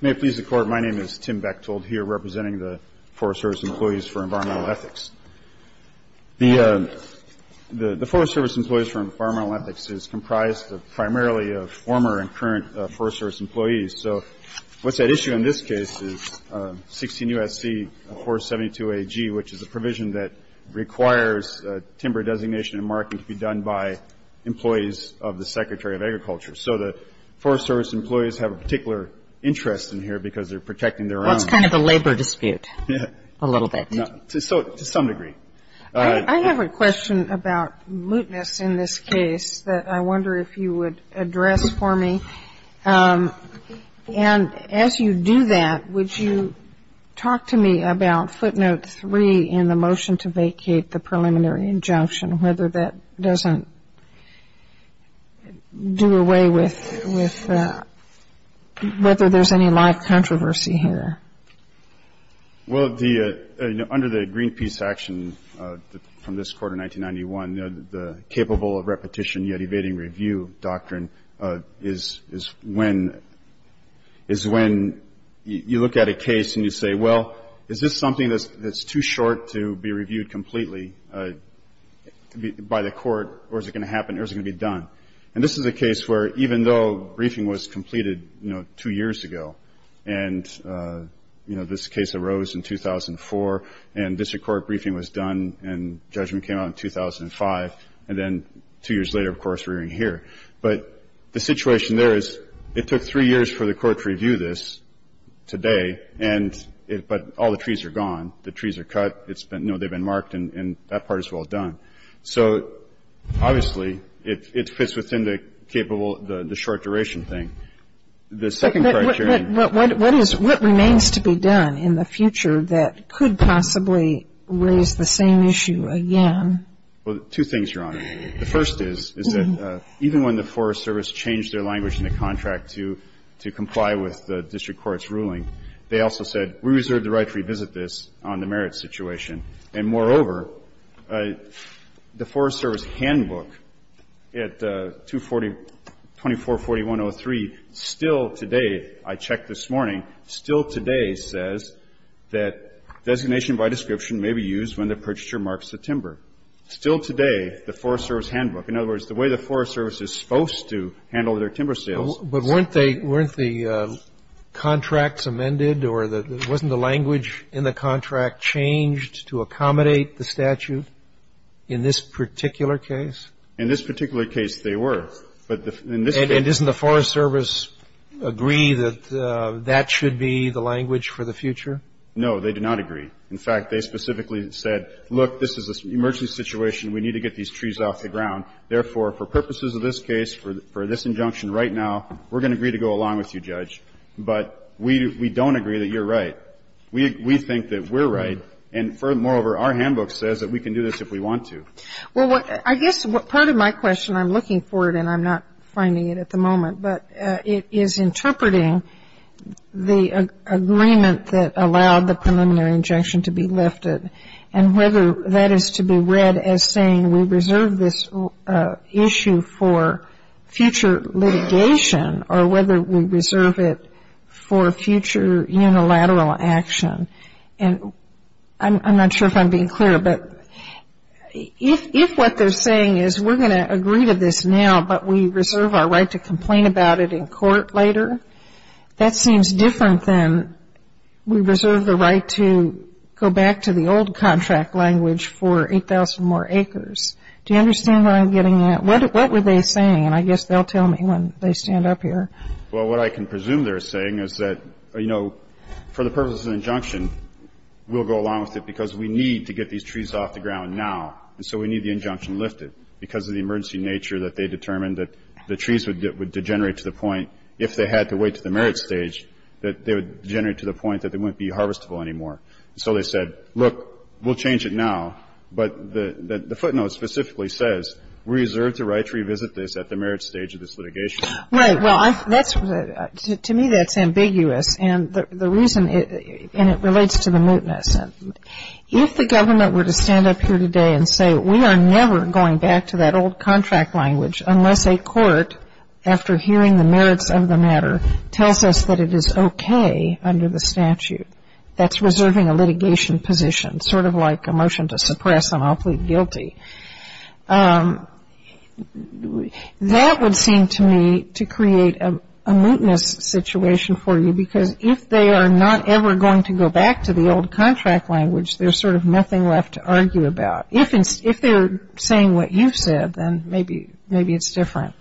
May it please the Court, my name is Tim Bechtold, here representing the Forest Service Employees for Environmental Ethics. The Forest Service Employees for Environmental Ethics is comprised primarily of former and current Forest Service employees. So what's at issue in this case is 16 U.S.C. 472 AG, which is a provision that requires timber designation and marking to be done by employees of the Secretary of Agriculture. So the Forest Service employees have a particular interest in here because they're protecting their own. Well, it's kind of a labor dispute, a little bit. To some degree. I have a question about mootness in this case that I wonder if you would address for me. And as you do that, would you talk to me about footnote 3 in the motion to vacate the preliminary injunction, whether that doesn't do away with whether there's any live controversy here? Well, under the Greenpeace action from this quarter, 1991, the capable of repetition yet evading review doctrine is when you look at a case and you say, well, is this something that's too short to be reviewed completely by the court or is it going to happen or is it going to be done? And this is a case where even though briefing was completed, you know, two years ago, and, you know, this case arose in 2004 and district court briefing was done and judgment came out in 2005, and then two years later, of course, we're in here. But the situation there is it took three years for the court to review this today, but all the trees are gone. The trees are cut. It's been, you know, they've been marked and that part is well done. So obviously, it fits within the capable, the short-duration thing. The second criteria. What remains to be done in the future that could possibly raise the same issue again? Well, two things, Your Honor. The first is, is that even when the Forest Service changed their language in the contract to comply with the district court's ruling, they also said we reserve the right to revisit this on the merits situation. And moreover, the Forest Service handbook at 2441.03 still today, I checked this morning, still today says that designation by description may be used when the purchaser marks the timber. Still today, the Forest Service handbook, in other words, the way the Forest Service is supposed to handle their timber sales. But weren't the contracts amended or wasn't the language in the contract changed to accommodate the statute in this particular case? In this particular case, they were. And doesn't the Forest Service agree that that should be the language for the future? No, they do not agree. In fact, they specifically said, look, this is an emergency situation. We need to get these trees off the ground. Therefore, for purposes of this case, for this injunction right now, we're going to agree to go along with you, Judge. But we don't agree that you're right. We think that we're right. And moreover, our handbook says that we can do this if we want to. Well, I guess part of my question, I'm looking for it and I'm not finding it at the moment, but it is interpreting the agreement that allowed the preliminary injunction to be lifted and whether that is to be read as saying we reserve this issue for future litigation or whether we reserve it for future unilateral action. And I'm not sure if I'm being clear, but if what they're saying is we're going to agree to this now, but we reserve our right to complain about it in court later, that seems different than we reserve the right to go back to the old contract language for 8,000 more acres. Do you understand what I'm getting at? What were they saying? And I guess they'll tell me when they stand up here. Well, what I can presume they're saying is that, you know, for the purpose of the injunction, we'll go along with it because we need to get these trees off the ground now. And so we need the injunction lifted because of the emergency nature that they determined that the trees would degenerate to the point, if they had to wait to the merit stage, that they would degenerate to the point that they wouldn't be harvestable anymore. And so they said, look, we'll change it now. But the footnote specifically says we reserve the right to revisit this at the merit stage of this litigation. Right. Well, to me that's ambiguous. And the reason, and it relates to the mootness. If the government were to stand up here today and say we are never going back to that old contract language unless a court, after hearing the merits of the matter, tells us that it is okay under the statute, that's reserving a litigation position, sort of like a motion to suppress an awfully guilty. That would seem to me to create a mootness situation for you because if they are not ever going to go back to the old contract language, there's sort of nothing left to argue about. If they're saying what you've said, then maybe it's different.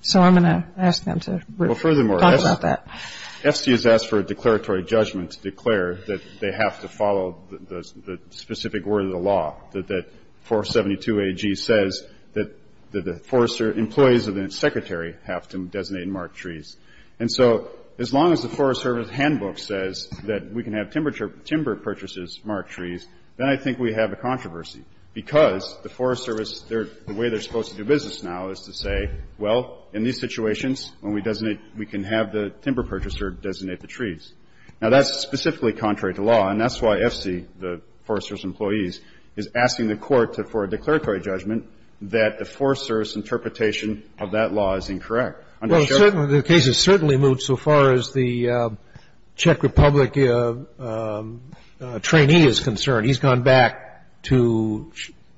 So I'm going to ask them to talk about that. Well, furthermore, FC has asked for a declaratory judgment to declare that they have to follow the specific word of the law, that 472AG says that the forester employees of the secretary have to designate marked trees. And so as long as the Forest Service handbook says that we can have timber purchases marked trees, then I think we have a controversy because the Forest Service, the way they're supposed to do business now is to say, well, in these situations, when we designate, we can have the timber purchaser designate the trees. Now, that's specifically contrary to law, and that's why FC, the Forest Service employees, is asking the Court for a declaratory judgment that the Forest Service interpretation of that law is incorrect. The case has certainly moved so far as the Czech Republic trainee is concerned. He's gone back to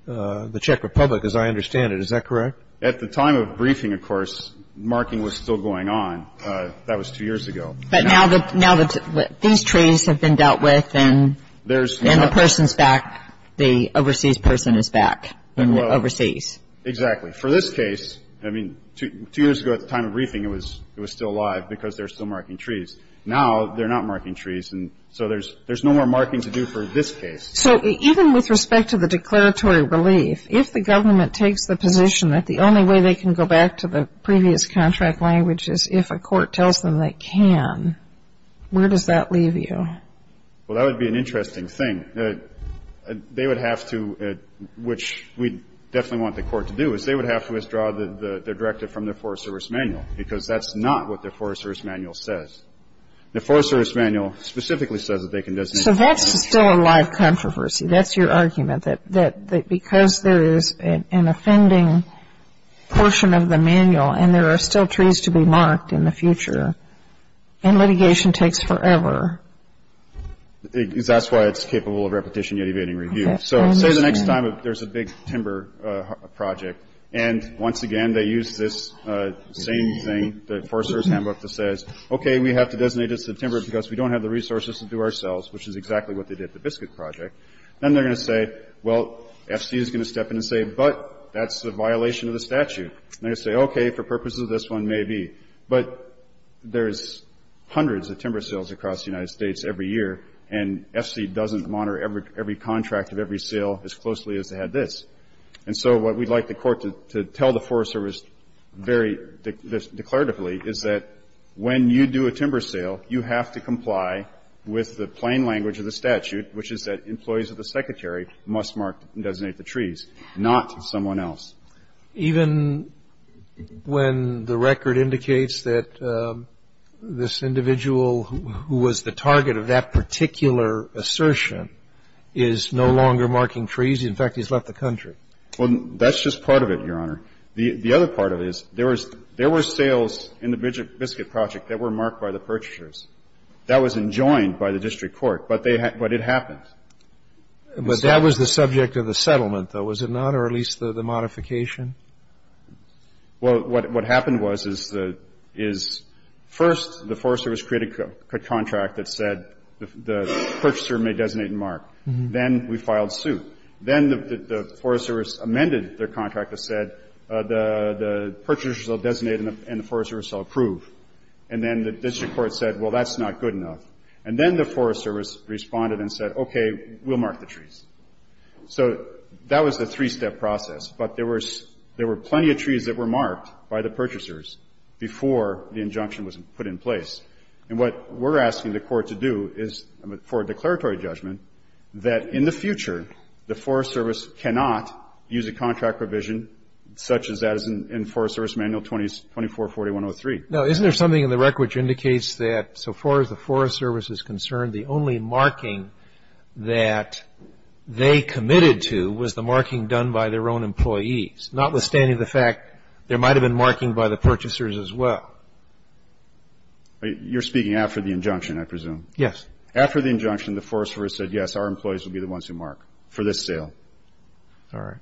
the Czech Republic, as I understand it. Is that correct? At the time of briefing, of course, marking was still going on. That was two years ago. But now that these trees have been dealt with and the person's back, the overseas person is back overseas. Exactly. For this case, I mean, two years ago at the time of briefing it was still alive because they're still marking trees. Now they're not marking trees, and so there's no more marking to do for this case. So even with respect to the declaratory relief, if the government takes the position that the only way they can go back to the previous contract language is if a court tells them they can, where does that leave you? Well, that would be an interesting thing. They would have to, which we definitely want the court to do, is they would have to withdraw their directive from the Forest Service manual because that's not what the Forest Service manual says. The Forest Service manual specifically says that they can designate trees. So that's still a live controversy. That's your argument, that because there is an offending portion of the manual and there are still trees to be marked in the future and litigation takes forever. Because that's why it's capable of repetition yet evading review. So say the next time there's a big timber project, and once again they use this same thing, the Forest Service handbook that says, okay, we have to designate this timber because we don't have the resources to do ourselves, which is exactly what they did with the biscuit project. Then they're going to say, well, FC is going to step in and say, but that's a violation of the statute. And they're going to say, okay, for purposes of this one, maybe. But there's hundreds of timber sales across the United States every year, and FC doesn't monitor every contract of every sale as closely as they had this. And so what we'd like the Court to tell the Forest Service very declaratively is that when you do a timber sale, you have to comply with the plain language of the statute, which is that employees of the Secretary must mark and designate the trees, not someone else. Even when the record indicates that this individual who was the target of that particular assertion is no longer marking trees? In fact, he's left the country. Well, that's just part of it, Your Honor. The other part of it is there were sales in the biscuit project that were marked by the purchasers. That was enjoined by the district court, but it happened. But that was the subject of the settlement, though, was it not? Or at least the modification? Well, what happened was is first the Forest Service created a contract that said the purchaser may designate and mark. Then we filed suit. Then the Forest Service amended their contract that said the purchasers will designate and the Forest Service will approve. And then the district court said, well, that's not good enough. And then the Forest Service responded and said, okay, we'll mark the trees. So that was the three-step process. But there were plenty of trees that were marked by the purchasers before the injunction was put in place. And what we're asking the court to do is for a declaratory judgment that in the future, the Forest Service cannot use a contract provision such as that in Forest Service Manual 244103. Now, isn't there something in the record which indicates that so far as the Forest Service is concerned, the only marking that they committed to was the marking done by their own employees, notwithstanding the fact there might have been marking by the purchasers as well? You're speaking after the injunction, I presume. Yes. After the injunction, the Forest Service said, yes, our employees will be the ones who mark for this sale. All right.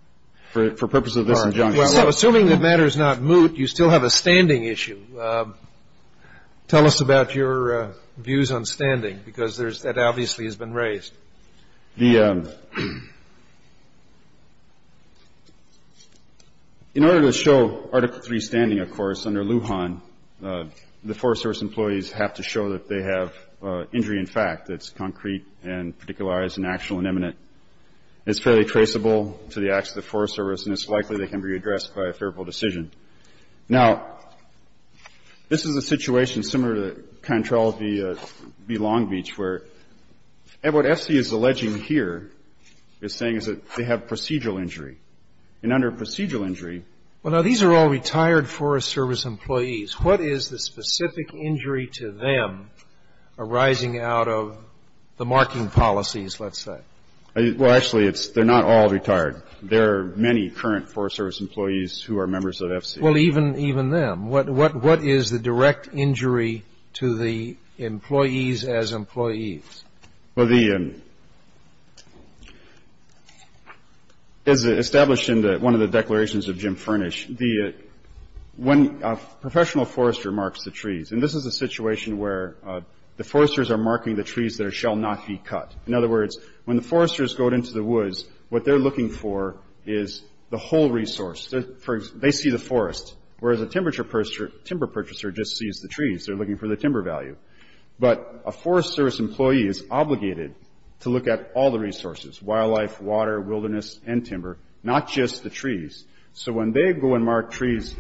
For purpose of this injunction. Assuming the matter is not moot, you still have a standing issue. Tell us about your views on standing, because that obviously has been raised. The – in order to show Article III standing, of course, under Lujan, the Forest Service employees have to show that they have injury in fact that's concrete and particularized and actual and imminent. It's fairly traceable to the acts of the Forest Service, and it's likely they can be redressed by a favorable decision. Now, this is a situation similar to the kind of trial of the Long Beach, where what FC is alleging here is saying is that they have procedural injury. And under procedural injury – Well, now, these are all retired Forest Service employees. What is the specific injury to them arising out of the marking policies, let's say? Well, actually, it's – they're not all retired. There are many current Forest Service employees who are members of FC. Well, even them. What is the direct injury to the employees as employees? Well, the – as established in one of the declarations of Jim Furnish, when a professional forester marks the trees – and this is a situation where the foresters are marking the trees that shall not be cut. In other words, when the foresters go into the woods, what they're looking for is the whole resource. They see the forest, whereas a timber purchaser just sees the trees. They're looking for the timber value. But a Forest Service employee is obligated to look at all the resources – wildlife, water, wilderness, and timber, not just the trees. So when they go and mark trees,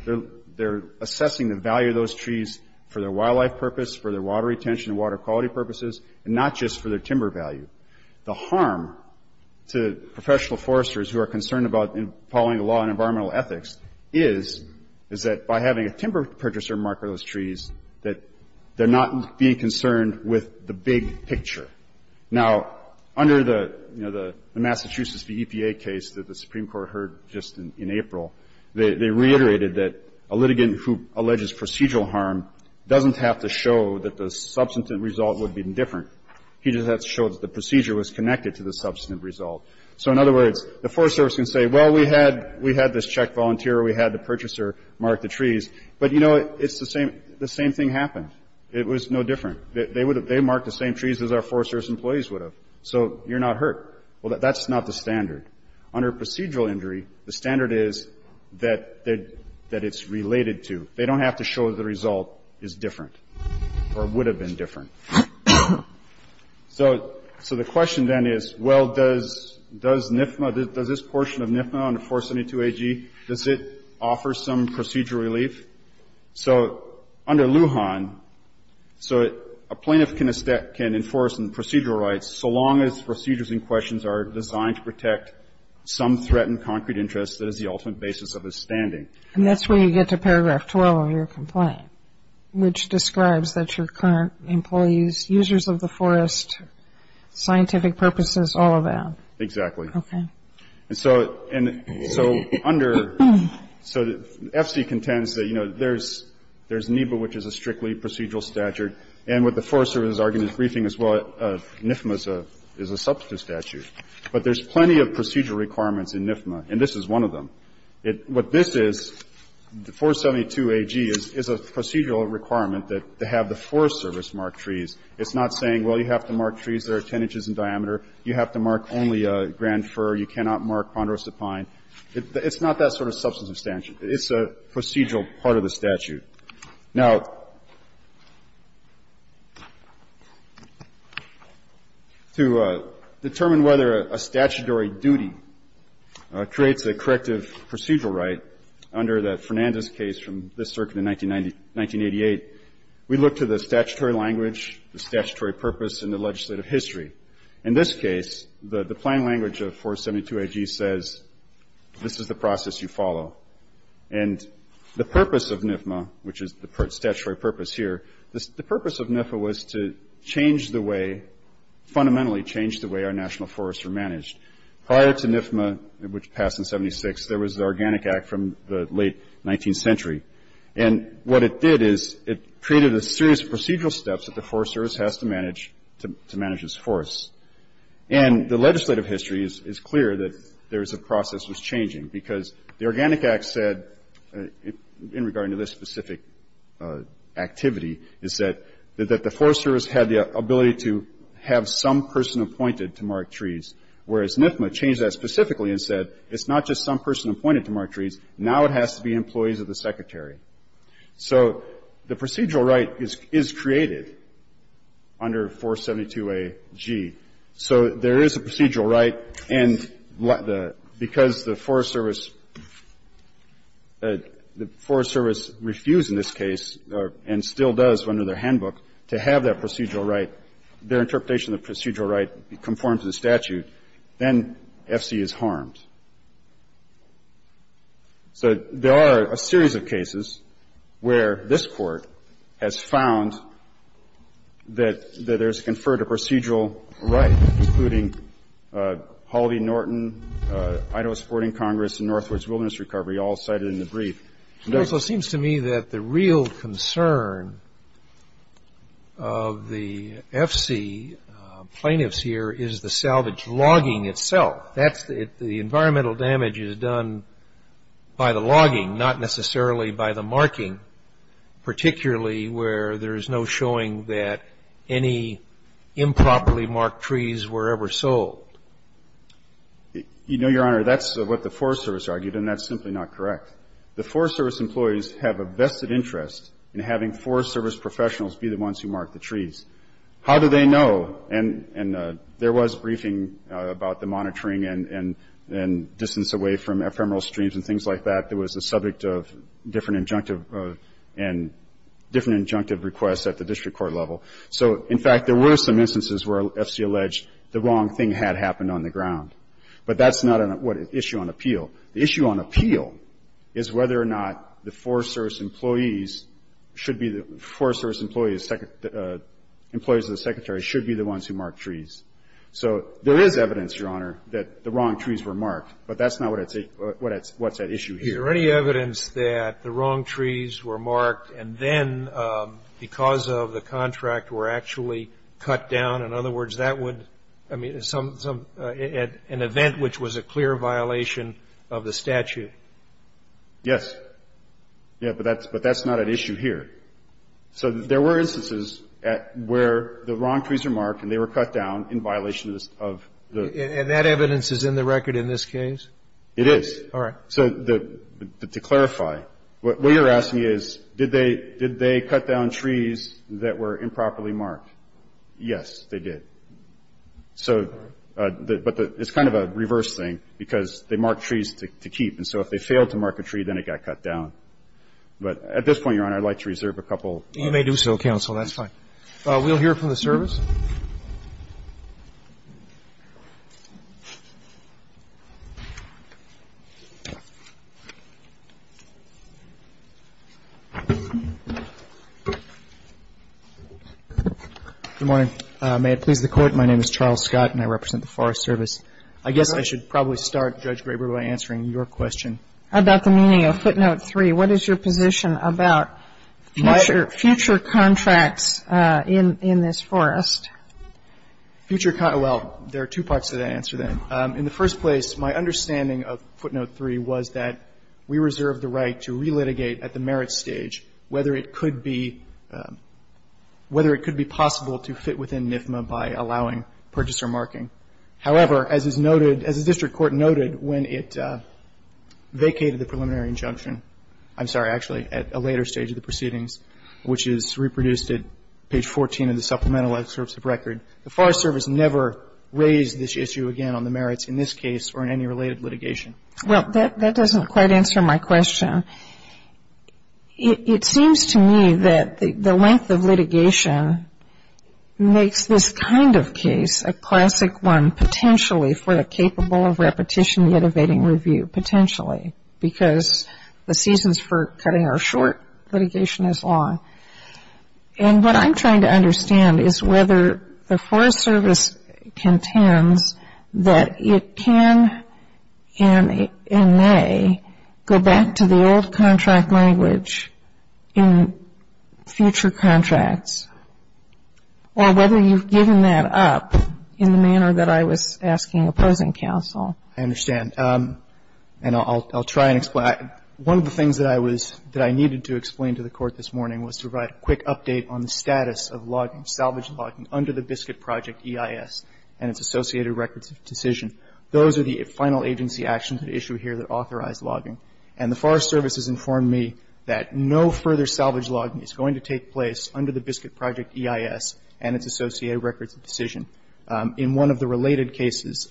they're assessing the value of those trees for their wildlife purpose, for their water retention and water quality purposes, and not just for their timber value. The harm to professional foresters who are concerned about following the law on environmental ethics is, is that by having a timber purchaser mark those trees, that they're not being concerned with the big picture. Now, under the, you know, the Massachusetts EPA case that the Supreme Court heard just in April, they reiterated that a litigant who alleges procedural harm doesn't have to show that the substantive result would be different. He just has to show that the procedure was connected to the substantive result. So in other words, the Forest Service can say, well, we had, we had this check volunteer, we had the purchaser mark the trees, but, you know, it's the same, the same thing happened. It was no different. They would have, they marked the same trees as our Forest Service employees would have. Well, that's not the standard. Under procedural injury, the standard is that, that it's related to. They don't have to show the result is different or would have been different. So, so the question then is, well, does, does NFMA, does this portion of NFMA under 472 AG, does it offer some procedural relief? So under Lujan, so a plaintiff can, can enforce some procedural rights, so long as procedures in questions are designed to protect some threatened concrete interest, that is the ultimate basis of his standing. And that's where you get to paragraph 12 of your complaint, which describes that your current employees, users of the forest, scientific purposes, all of that. Exactly. Okay. And so, and so under, so FC contends that, you know, there's, there's NEPA, which is a strictly procedural statute, and with the Forest Service argument briefing as well, NFMA is a, is a substantive statute. But there's plenty of procedural requirements in NFMA, and this is one of them. It, what this is, 472 AG is, is a procedural requirement that, to have the Forest Service mark trees. It's not saying, well, you have to mark trees that are 10 inches in diameter. You have to mark only Grand Fir. You cannot mark Ponderosa Pine. It's not that sort of substantive statute. It's a procedural part of the statute. Now, to determine whether a statutory duty creates a corrective procedural right, under the Fernandez case from this circuit in 1980, 1988, we look to the statutory language, the statutory purpose, and the legislative history. In this case, the, the plain language of 472 AG says, this is the process you follow. And the purpose of NFMA, which is the statutory purpose here, the, the purpose of NEPA was to change the way, fundamentally change the way our national forests are managed. Prior to NFMA, which passed in 76, there was the Organic Act from the late 19th century. And what it did is, it created a series of procedural steps that the Forest Service has to manage, to, to manage its forests. And the legislative history is, is clear that there is a process that's changing, because the Organic Act said, in, in regarding to this specific activity, is that, that the Forest Service had the ability to have some person appointed to mark trees, whereas NFMA changed that specifically and said, it's not just some person appointed to mark trees. Now it has to be employees of the Secretary. So the procedural right is, is created under 472 AG. So there is a procedural right. And the, because the Forest Service, the Forest Service refused in this case, and still does under their handbook, to have that procedural right, their interpretation of the procedural right conforms to the statute, then FC is harmed. So there are a series of cases where this Court has found that, that there's conferred a procedural right, including Halvey Norton, Idaho Supporting Congress, and Northwoods Wilderness Recovery, all cited in the brief. It also seems to me that the real concern of the FC plaintiffs here is the salvage logging itself. That's the, the environmental damage is done by the logging, not necessarily by the marking, particularly where there is no showing that any improperly marked trees were ever sold. You know, Your Honor, that's what the Forest Service argued, and that's simply not correct. The Forest Service employees have a vested interest in having Forest Service professionals be the ones who mark the trees. How do they know? And, and there was briefing about the monitoring and, and distance away from ephemeral streams and things like that. There was a subject of different injunctive and different injunctive requests at the district court level. So, in fact, there were some instances where FC alleged the wrong thing had happened on the ground. But that's not an issue on appeal. The issue on appeal is whether or not the Forest Service employees should be the, Forest Service employees, employees of the Secretary should be the ones who mark trees. So there is evidence, Your Honor, that the wrong trees were marked, but that's not what that's, what's at issue here. Are there any evidence that the wrong trees were marked and then, because of the contract, were actually cut down? In other words, that would, I mean, some, some, an event which was a clear violation of the statute? Yes. Yes, but that's, but that's not at issue here. So there were instances where the wrong trees were marked and they were cut down in violation of the statute. And that evidence is in the record in this case? It is. All right. So to clarify, what you're asking is, did they, did they cut down trees that were improperly marked? Yes, they did. So, but it's kind of a reverse thing, because they marked trees to keep. And so if they failed to mark a tree, then it got cut down. But at this point, Your Honor, I'd like to reserve a couple. You may do so, counsel. That's fine. We'll hear from the service. Good morning. May it please the Court, my name is Charles Scott, and I represent the Forest Service. I guess I should probably start, Judge Graber, by answering your question. About the meaning of footnote three, what is your position about future contracts Well, there are two parts to that answer, then. In the first place, my understanding of footnote three was that we reserve the right to relitigate at the merits stage whether it could be, whether it could be possible to fit within NIFMA by allowing purchaser marking. However, as is noted, as the district court noted, when it vacated the preliminary injunction, I'm sorry, actually, at a later stage of the proceedings, which is reproduced at page 14 of the supplemental excerpts of record, the Forest Service never raised this issue again on the merits in this case or in any related litigation. Well, that doesn't quite answer my question. It seems to me that the length of litigation makes this kind of case a classic one, potentially for a capable of repetition yet evading review, potentially, because the seasons for cutting are short, litigation is long. And what I'm trying to understand is whether the Forest Service contends that it can and may go back to the old contract language in future contracts, or whether you've given that up in the manner that I was asking opposing counsel. I understand. And I'll try and explain. One of the things that I was ñ that I needed to explain to the Court this morning was to provide a quick update on the status of logging, salvage logging, under the Biscuit Project EIS and its associated records of decision. Those are the final agency actions at issue here that authorize logging. And the Forest Service has informed me that no further salvage logging is going to take place under the Biscuit Project EIS and its associated records of decision. In one of the related cases,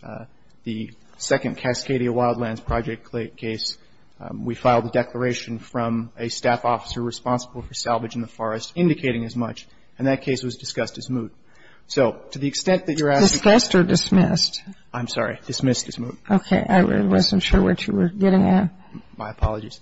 the second Cascadia Wildlands Project case, we filed a declaration from a staff officer responsible for salvage in the forest indicating as much, and that case was discussed as moot. So to the extent that you're asking ñ Discussed or dismissed? I'm sorry. Dismissed as moot. Okay. I wasn't sure what you were getting at. My apologies.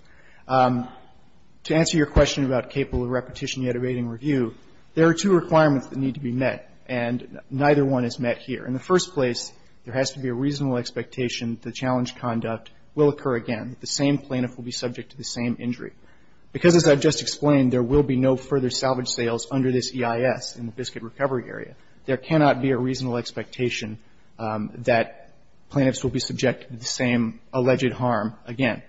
To answer your question about capable of repetition yet evading review, there are two requirements that need to be met. And neither one is met here. In the first place, there has to be a reasonable expectation that the challenge conduct will occur again, that the same plaintiff will be subject to the same injury. Because as I've just explained, there will be no further salvage sales under this EIS in the Biscuit Recovery Area. There cannot be a reasonable expectation that plaintiffs will be subjected to the same alleged harm again.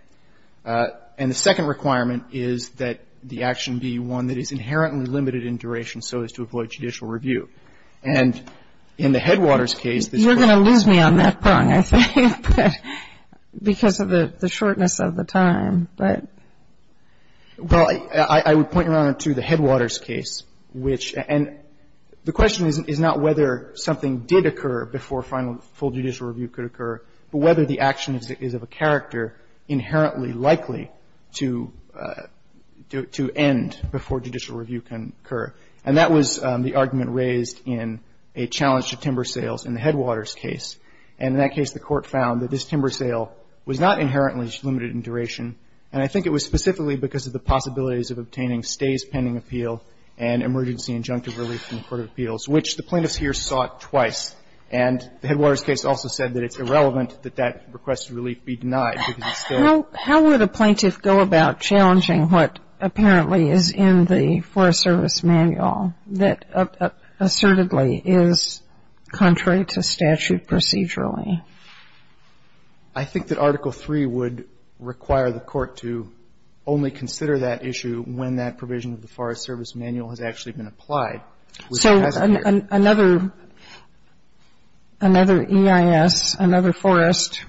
And the second requirement is that the action be one that is inherently limited in duration so as to avoid judicial review. And in the Headwaters case, this question is ñ You're going to lose me on that point, I think, because of the shortness of the time. But ñ Well, I would point you, Your Honor, to the Headwaters case, which ñ and the question is not whether something did occur before final full judicial review could occur, but whether the action is of a character inherently likely to end before judicial review can occur. And that was the argument raised in a challenge to timber sales in the Headwaters case. And in that case, the Court found that this timber sale was not inherently limited in duration. And I think it was specifically because of the possibilities of obtaining stays pending appeal and emergency injunctive relief from the Court of Appeals, which the plaintiffs here sought twice. And the Headwaters case also said that it's irrelevant that that requested relief be denied. How would a plaintiff go about challenging what apparently is in the Forest Service Manual that assertedly is contrary to statute procedurally? I think that Article III would require the Court to only consider that issue when that provision of the Forest Service Manual has actually been applied, which it hasn't here. So another EIS, another forest,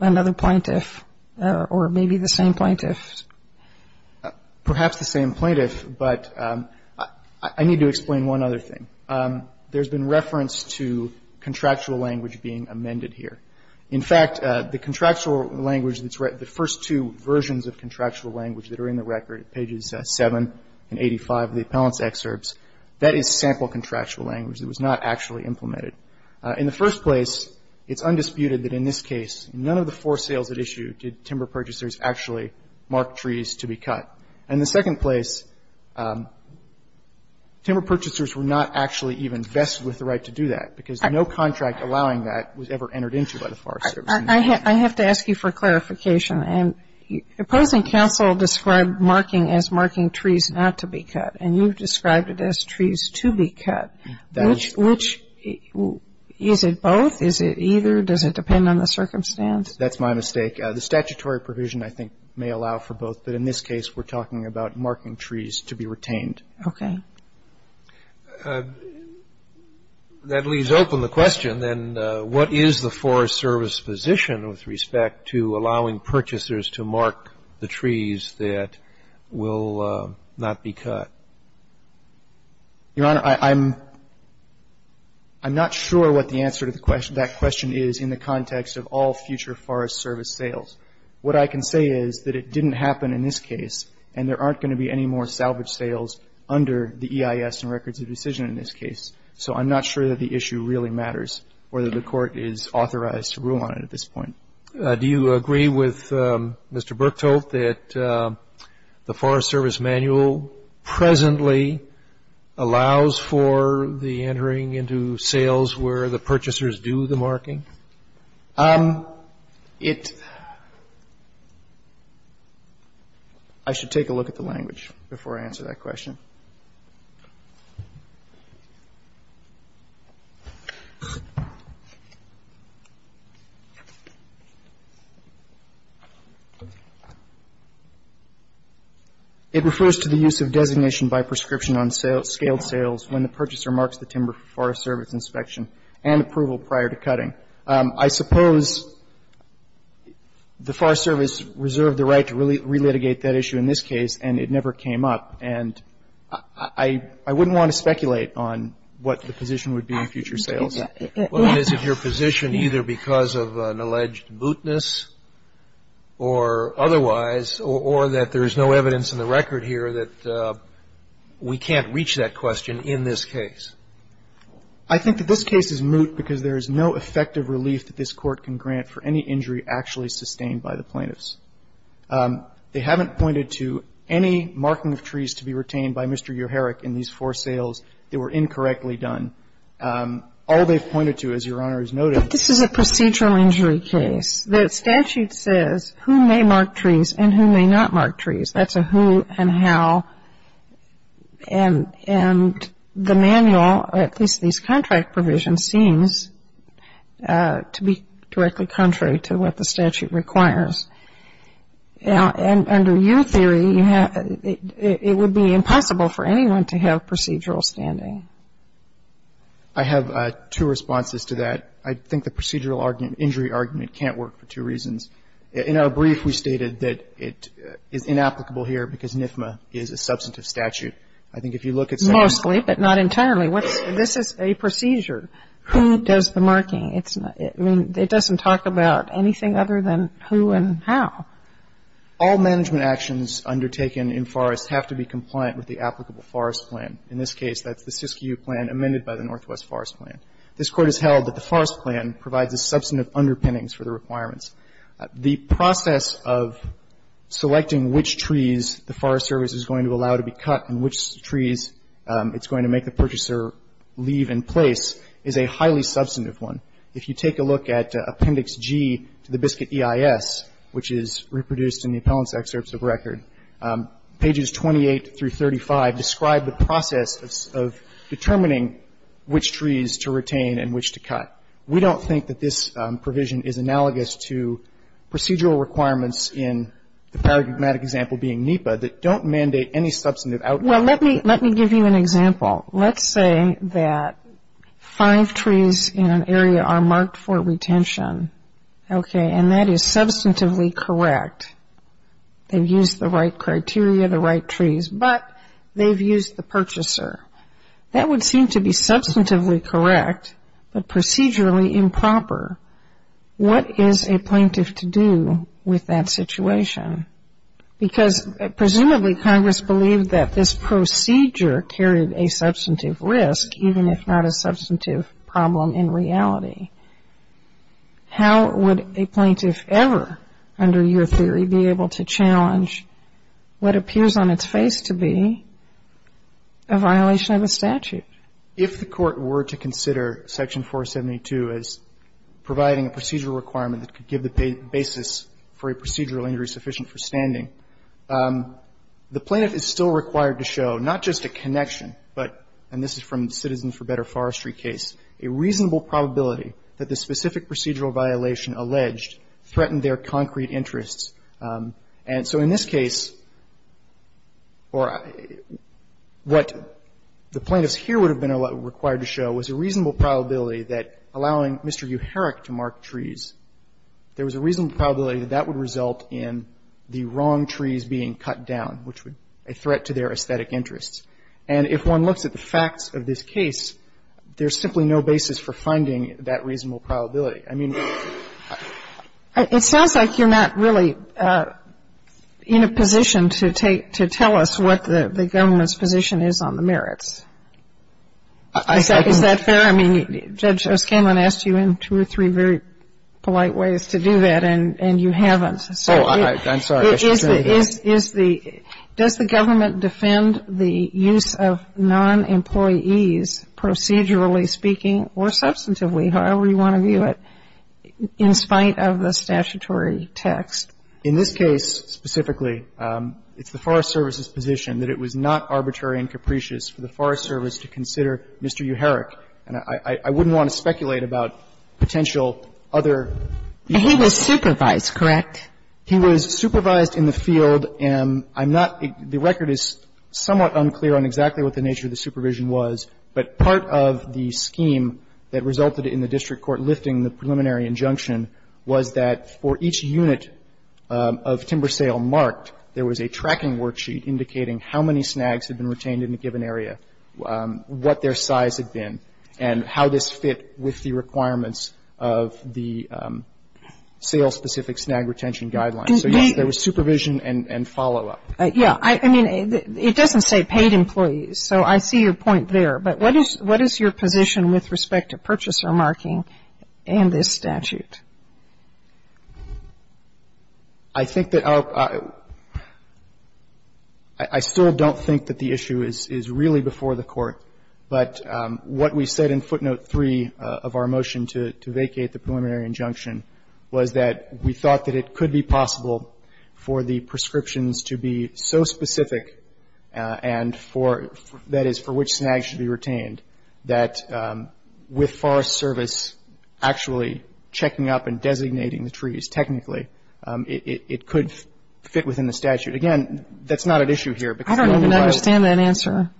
another plaintiff, or maybe the same plaintiff? Perhaps the same plaintiff, but I need to explain one other thing. There's been reference to contractual language being amended here. In fact, the contractual language that's read, the first two versions of contractual language that are in the record, pages 7 and 85 of the appellant's excerpts, that is sample contractual language. It was not actually implemented. In the first place, it's undisputed that in this case, none of the four sales at issue did timber purchasers actually mark trees to be cut. In the second place, timber purchasers were not actually even vested with the right to do that because no contract allowing that was ever entered into by the Forest Service. I have to ask you for clarification. Opposing counsel described marking as marking trees not to be cut, and you've described it as trees to be cut. Is it both? Is it either? Does it depend on the circumstance? That's my mistake. The statutory provision, I think, may allow for both, but in this case, we're talking about marking trees to be retained. Okay. That leaves open the question, then, what is the Forest Service position with respect to allowing purchasers to mark the trees that will not be cut? Your Honor, I'm not sure what the answer to that question is in the context of all future Forest Service sales. What I can say is that it didn't happen in this case, and there aren't going to be any more salvage sales under the EIS and records of decision in this case. So I'm not sure that the issue really matters or that the Court is authorized to rule on it at this point. Do you agree with Mr. Berktold that the Forest Service manual presently allows for the entering into sales where the purchasers do the marking? It – I should take a look at the language before I answer that question. It refers to the use of designation by prescription on scaled sales when the purchaser marks the timber for Forest Service inspection and approval prior to cutting. I suppose the Forest Service reserved the right to relitigate that issue in this case, and it never came up. And I wouldn't want to speculate on what the position would be in future sales. Well, is it your position either because of an alleged bootness or otherwise or that there is no evidence in the record here that we can't reach that question in this case? I think that this case is moot because there is no effective relief that this Court can grant for any injury actually sustained by the plaintiffs. They haven't pointed to any marking of trees to be retained by Mr. Uherich in these four sales that were incorrectly done. All they've pointed to, as Your Honor has noted – But this is a procedural injury case. The statute says who may mark trees and who may not mark trees. That's a who and how. And the manual, at least these contract provisions, seems to be directly contrary to what the statute requires. And under your theory, it would be impossible for anyone to have procedural standing. I have two responses to that. I think the procedural argument, injury argument, can't work for two reasons. In our brief, we stated that it is inapplicable here because NIFMA is a substantive statute. I think if you look at some of the – Mostly, but not internally. This is a procedure. Who does the marking? It doesn't talk about anything other than who and how. All management actions undertaken in forests have to be compliant with the applicable forest plan. In this case, that's the SISCU plan amended by the Northwest Forest Plan. This Court has held that the forest plan provides a substantive underpinnings for the requirements. The process of selecting which trees the Forest Service is going to allow to be cut and which trees it's going to make the purchaser leave in place is a highly substantive one. If you take a look at Appendix G to the Biscuit EIS, which is reproduced in the appellant's excerpts of record, pages 28 through 35 describe the process of determining which trees to retain and which to cut. We don't think that this provision is analogous to procedural requirements in the paradigmatic example being NEPA that don't mandate any substantive outline. Well, let me give you an example. Let's say that five trees in an area are marked for retention, okay, and that is substantively correct. They've used the right criteria, the right trees, but they've used the purchaser. That would seem to be substantively correct, but procedurally improper. What is a plaintiff to do with that situation? Because presumably Congress believed that this procedure carried a substantive risk, even if not a substantive problem in reality. How would a plaintiff ever, under your theory, be able to challenge what appears on its face to be a violation of a statute? If the Court were to consider Section 472 as providing a procedural requirement that could give the basis for a procedural injury sufficient for standing, the plaintiff is still required to show not just a connection, but, and this is from the Citizens for Better Forestry case, a reasonable probability that the specific procedural violation alleged threatened their concrete interests. And so in this case, or what the plaintiffs here would have been required to show was a reasonable probability that allowing Mr. Uherich to mark trees, there was a reasonable probability that that would result in the wrong trees being cut down, which would be a threat to their aesthetic interests. And if one looks at the facts of this case, there's simply no basis for finding that reasonable probability. I mean... It sounds like you're not really in a position to tell us what the government's position is on the merits. Is that fair? I mean, Judge O'Scanlan asked you in two or three very polite ways to do that, and you haven't. Oh, I'm sorry. I should say that. Does the government defend the use of nonemployees, procedurally speaking or substantively, however you want to view it, in spite of the statutory text? In this case specifically, it's the Forest Service's position that it was not arbitrary and capricious for the Forest Service to consider Mr. Uherich. And I wouldn't want to speculate about potential other... He was supervised, correct? He was supervised in the field. I'm not the record is somewhat unclear on exactly what the nature of the supervision was, but part of the scheme that resulted in the district court lifting the preliminary injunction was that for each unit of timber sale marked, there was a tracking worksheet indicating how many snags had been retained in a given area, what their size had been, and how this fit with the requirements of the sale-specific snag retention guidelines. So, yes, there was supervision and follow-up. Yeah. I mean, it doesn't say paid employees, so I see your point there. But what is your position with respect to purchaser marking and this statute? I think that our – I still don't think that the issue is really before the Court, but what we said in footnote 3 of our motion to vacate the preliminary injunction was that we thought that it could be possible for the prescriptions to be so specific and for – that is, for which snag should be retained, that with Forest Service actually checking up and designating the trees technically, it could fit within the statute. Again, that's not an issue here. I don't even understand that answer.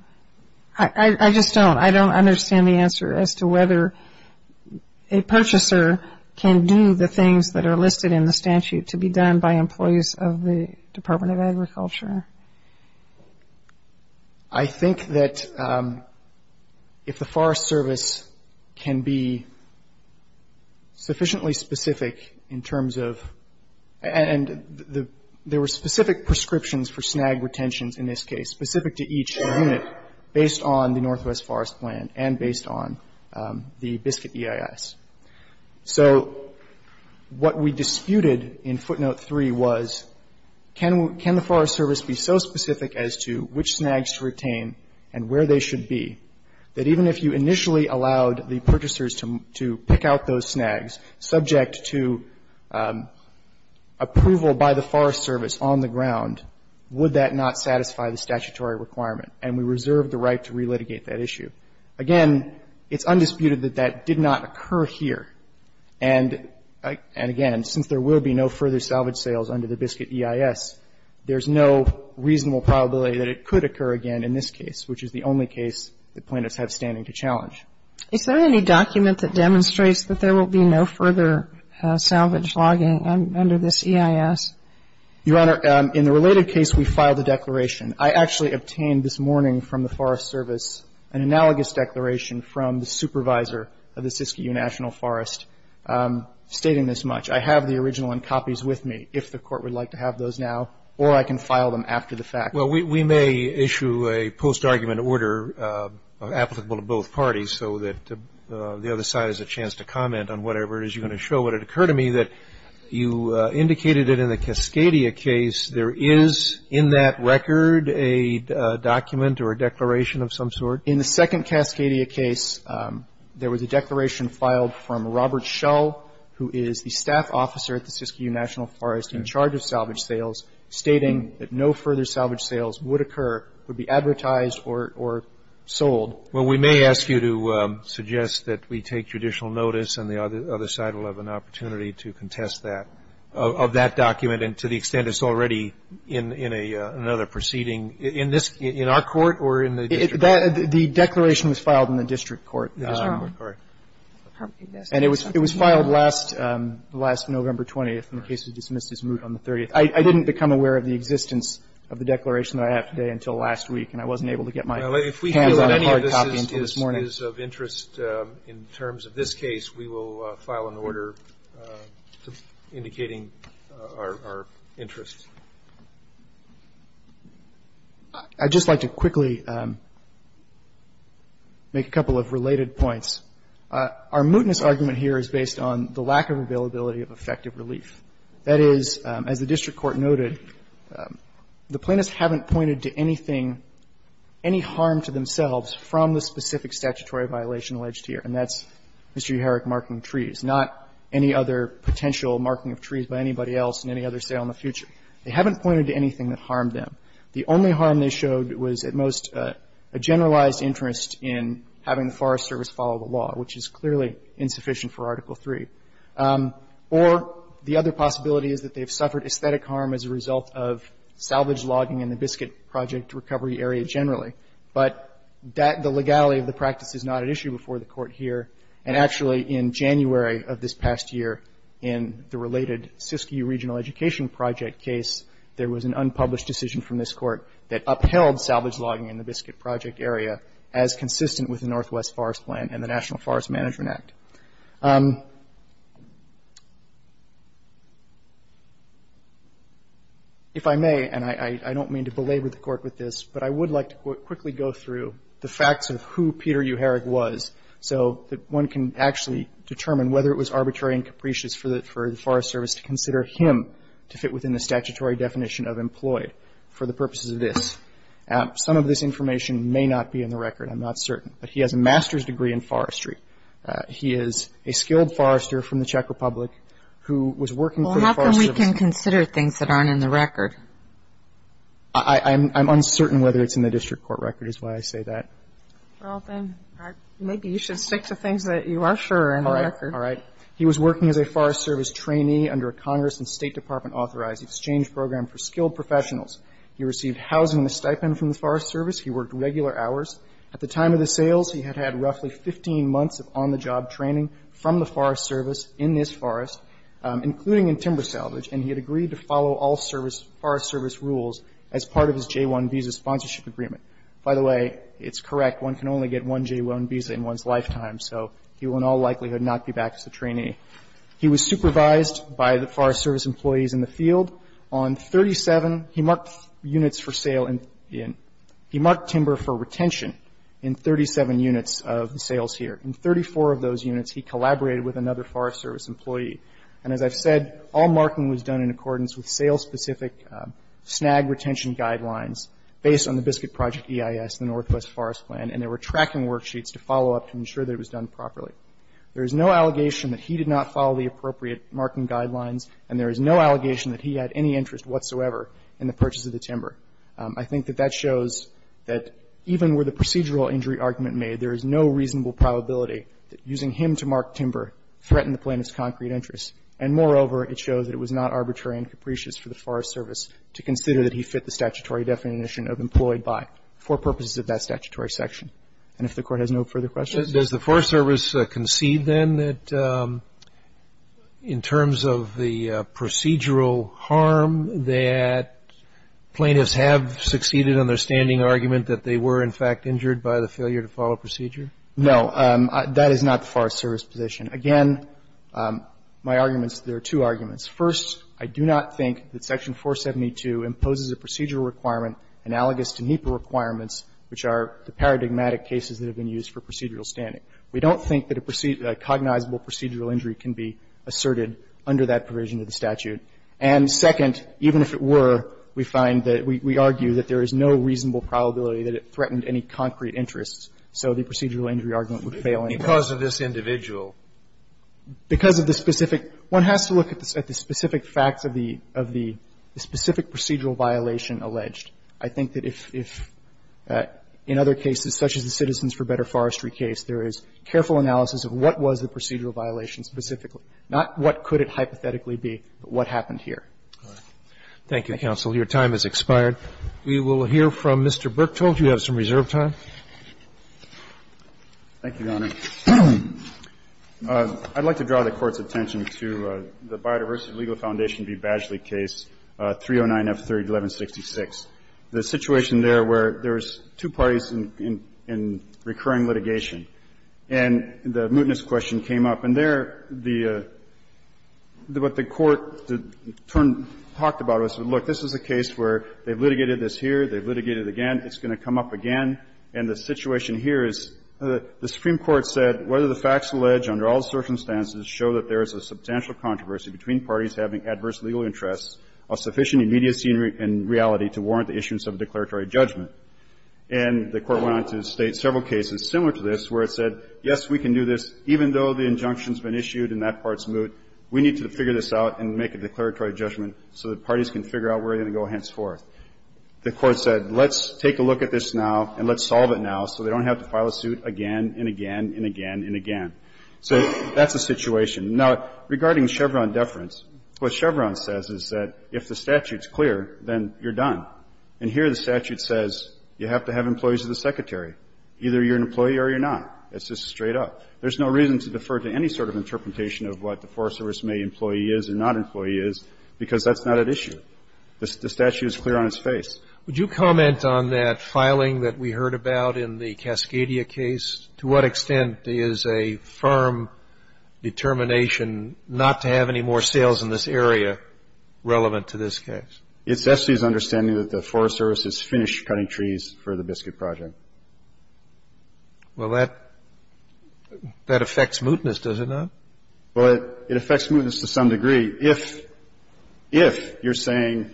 I just don't. I don't understand the answer as to whether a purchaser can do the things that are listed in the statute to be done by employees of the Department of Agriculture. I think that if the Forest Service can be sufficiently specific in terms of – and there were specific prescriptions for snag retentions in this case, specific to each unit based on the Northwest Forest Plan and based on the Biscuit EIS. So what we disputed in footnote 3 was can the Forest Service be so specific as to which snags to retain and where they should be that even if you initially allowed the purchasers to pick out those snags, subject to approval by the Forest Service on the ground, would that not satisfy the statutory requirement? And we reserved the right to relitigate that issue. Again, it's undisputed that that did not occur here. And again, since there will be no further salvage sales under the Biscuit EIS, there's no reasonable probability that it could occur again in this case, which is the only case that plaintiffs have standing to challenge. Is there any document that demonstrates that there will be no further salvage logging under this EIS? Your Honor, in the related case, we filed a declaration. I actually obtained this morning from the Forest Service an analogous declaration from the supervisor of the Siskiyou National Forest stating this much. I have the original in copies with me, if the Court would like to have those now, or I can file them after the fact. Well, we may issue a post-argument order applicable to both parties so that the other side has a chance to comment on whatever it is you're going to show. But it occurred to me that you indicated that in the Cascadia case, there is in that record a document or a declaration of some sort. In the second Cascadia case, there was a declaration filed from Robert Schell, who is the staff officer at the Siskiyou National Forest in charge of salvage sales, stating that no further salvage sales would occur, would be advertised, or sold. Well, we may ask you to suggest that we take judicial notice, and the other side will have an opportunity to contest that, of that document, and to the extent it's already in another proceeding in this – in our court or in the district? The declaration was filed in the district court. And it was filed last November 20th, and the case was dismissed as moot on the 30th. I didn't become aware of the existence of the declaration that I have today until last week, and I wasn't able to get my hands on a hard copy until this morning. Well, if we feel that any of this is of interest in terms of this case, we will file an order indicating our interest. I'd just like to quickly make a couple of related points. Our mootness argument here is based on the lack of availability of effective relief. That is, as the district court noted, the plaintiffs haven't pointed to anything – any harm to themselves from the specific statutory violation alleged here, and that's Mr. Uherich marking trees, not any other potential marking of trees by anybody else in any other sale in the future. They haven't pointed to anything that harmed them. The only harm they showed was at most a generalized interest in having the Forest Service follow the law, which is clearly insufficient for Article III. Or the other possibility is that they've suffered aesthetic harm as a result of salvage logging in the Biscuit Project recovery area generally. But the legality of the practice is not at issue before the court here. And actually, in January of this past year, in the related Siskiyou Regional Education Project case, there was an unpublished decision from this court that upheld salvage logging in the Biscuit Project area as consistent with the Northwest Forest Plan and the National Forest Management Act. If I may, and I don't mean to belabor the court with this, but I would like to quickly go through the facts of who Peter Uherich was so that one can actually determine whether it was arbitrary and capricious for the Forest Service to consider him to fit within the statutory definition of employed for the purposes of this. Some of this information may not be in the record. I'm not certain. But he has a master's degree in forestry. He is a skilled forester from the Czech Republic who was working for the Forest Service. Well, how come we can consider things that aren't in the record? I'm uncertain whether it's in the district court record is why I say that. Well, then maybe you should stick to things that you are sure are in the record. All right. He was working as a Forest Service trainee under a Congress and State Department authorized exchange program for skilled professionals. He received housing and a stipend from the Forest Service. He worked regular hours. At the time of the sales, he had had roughly 15 months of on-the-job training from the Forest Service in this forest, including in timber salvage, and he had agreed to follow all Forest Service rules as part of his J-1 visa sponsorship agreement. By the way, it's correct. One can only get one J-1 visa in one's lifetime, so he will in all likelihood not be back as a trainee. He was supervised by the Forest Service employees in the field. On 37, he marked units for sale in the end. He marked timber for retention in 37 units of sales here. In 34 of those units, he collaborated with another Forest Service employee. And as I've said, all marking was done in accordance with sales-specific snag retention guidelines based on the Biscuit Project EIS, the Northwest Forest Plan, and there were tracking worksheets to follow up to ensure that it was done properly. There is no allegation that he did not follow the appropriate marking guidelines, and there is no allegation that he had any interest whatsoever in the purchase of the timber. I think that that shows that even with the procedural injury argument made, there is no reasonable probability that using him to mark timber threatened the plaintiff's concrete interests. And moreover, it shows that it was not arbitrary and capricious for the Forest Service to consider that he fit the statutory definition of employed by for purposes of that statutory section. And if the Court has no further questions? Roberts, does the Forest Service concede, then, that in terms of the procedural harm that plaintiffs have succeeded in their standing argument that they were, in fact, injured by the failure to follow procedure? No. That is not the Forest Service position. Again, my arguments, there are two arguments. First, I do not think that Section 472 imposes a procedural requirement analogous to NEPA requirements, which are the paradigmatic cases that have been used for procedural standing. We don't think that a cognizable procedural injury can be asserted under that provision of the statute. And second, even if it were, we find that we argue that there is no reasonable probability that it threatened any concrete interests, so the procedural injury argument would fail anyway. Because of this individual. Because of the specific one has to look at the specific facts of the specific procedural violation alleged. I think that if, in other cases, such as the Citizens for Better Forestry case, there is careful analysis of what was the procedural violation specifically, not what could it hypothetically be, but what happened here. Thank you, counsel. Your time has expired. We will hear from Mr. Berktold. You have some reserve time. Thank you, Your Honor. I'd like to draw the Court's attention to the Biodiversity Legal Foundation v. Badgley case 309F301166. The situation there where there's two parties in recurring litigation. And the mootness question came up. And there, the Court talked about it. Look, this is a case where they've litigated this here, they've litigated it again, it's going to come up again. And the situation here is the Supreme Court said whether the facts alleged under all circumstances show that there is a substantial controversy between parties having adverse legal interests of sufficient immediacy and reality to warrant the issuance of a declaratory judgment. And the Court went on to state several cases similar to this where it said, yes, we can do this, even though the injunction's been issued and that part's moot, we need to figure this out and make a declaratory judgment so that parties can figure out where they're going to go henceforth. The Court said, let's take a look at this now and let's solve it now so they don't have to file a suit again and again and again and again. So that's the situation. Now, regarding Chevron deference, what Chevron says is that if the statute's clear, then you're done. And here, the statute says you have to have employees of the secretary. Either you're an employee or you're not. It's just straight up. There's no reason to defer to any sort of interpretation of what the Forest Service may employee is or not employee is, because that's not at issue. The statute is clear on its face. Scalia. Would you comment on that filing that we heard about in the Cascadia case? To what extent is a firm determination not to have any more sales in this area relevant to this case? It's SC's understanding that the Forest Service has finished cutting trees for the Biscuit Project. Well, that affects mootness, does it not? Well, it affects mootness to some degree. If you're saying,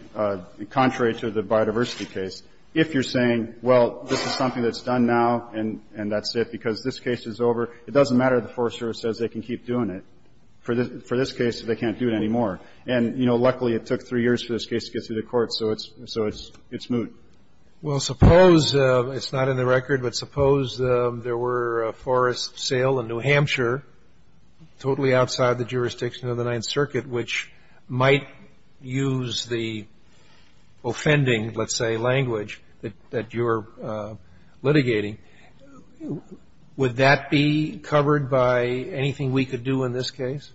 contrary to the biodiversity case, if you're saying, well, this is something that's done now and that's it because this case is over, it doesn't matter if the Forest Service says they can keep doing it. For this case, they can't do it anymore. And, you know, luckily, it took three years for this case to get through the courts, so it's moot. Well, suppose, it's not in the record, but suppose there were a forest sale in New Hampshire totally outside the jurisdiction of the Ninth Circuit, which might use the offending, let's say, language that you're litigating. Would that be covered by anything we could do in this case?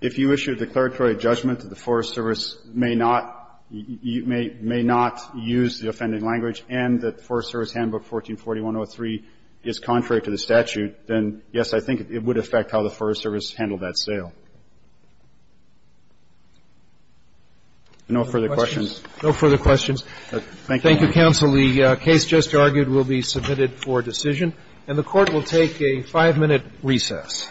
If you issued a declaratory judgment that the Forest Service may not use the offending language and that the Forest Service Handbook 144103 is contrary to the statute, then, yes, I think it would affect how the Forest Service handled that sale. No further questions. No further questions. Thank you, counsel. The case just argued will be submitted for decision. And the Court will take a five-minute recess. Thank you.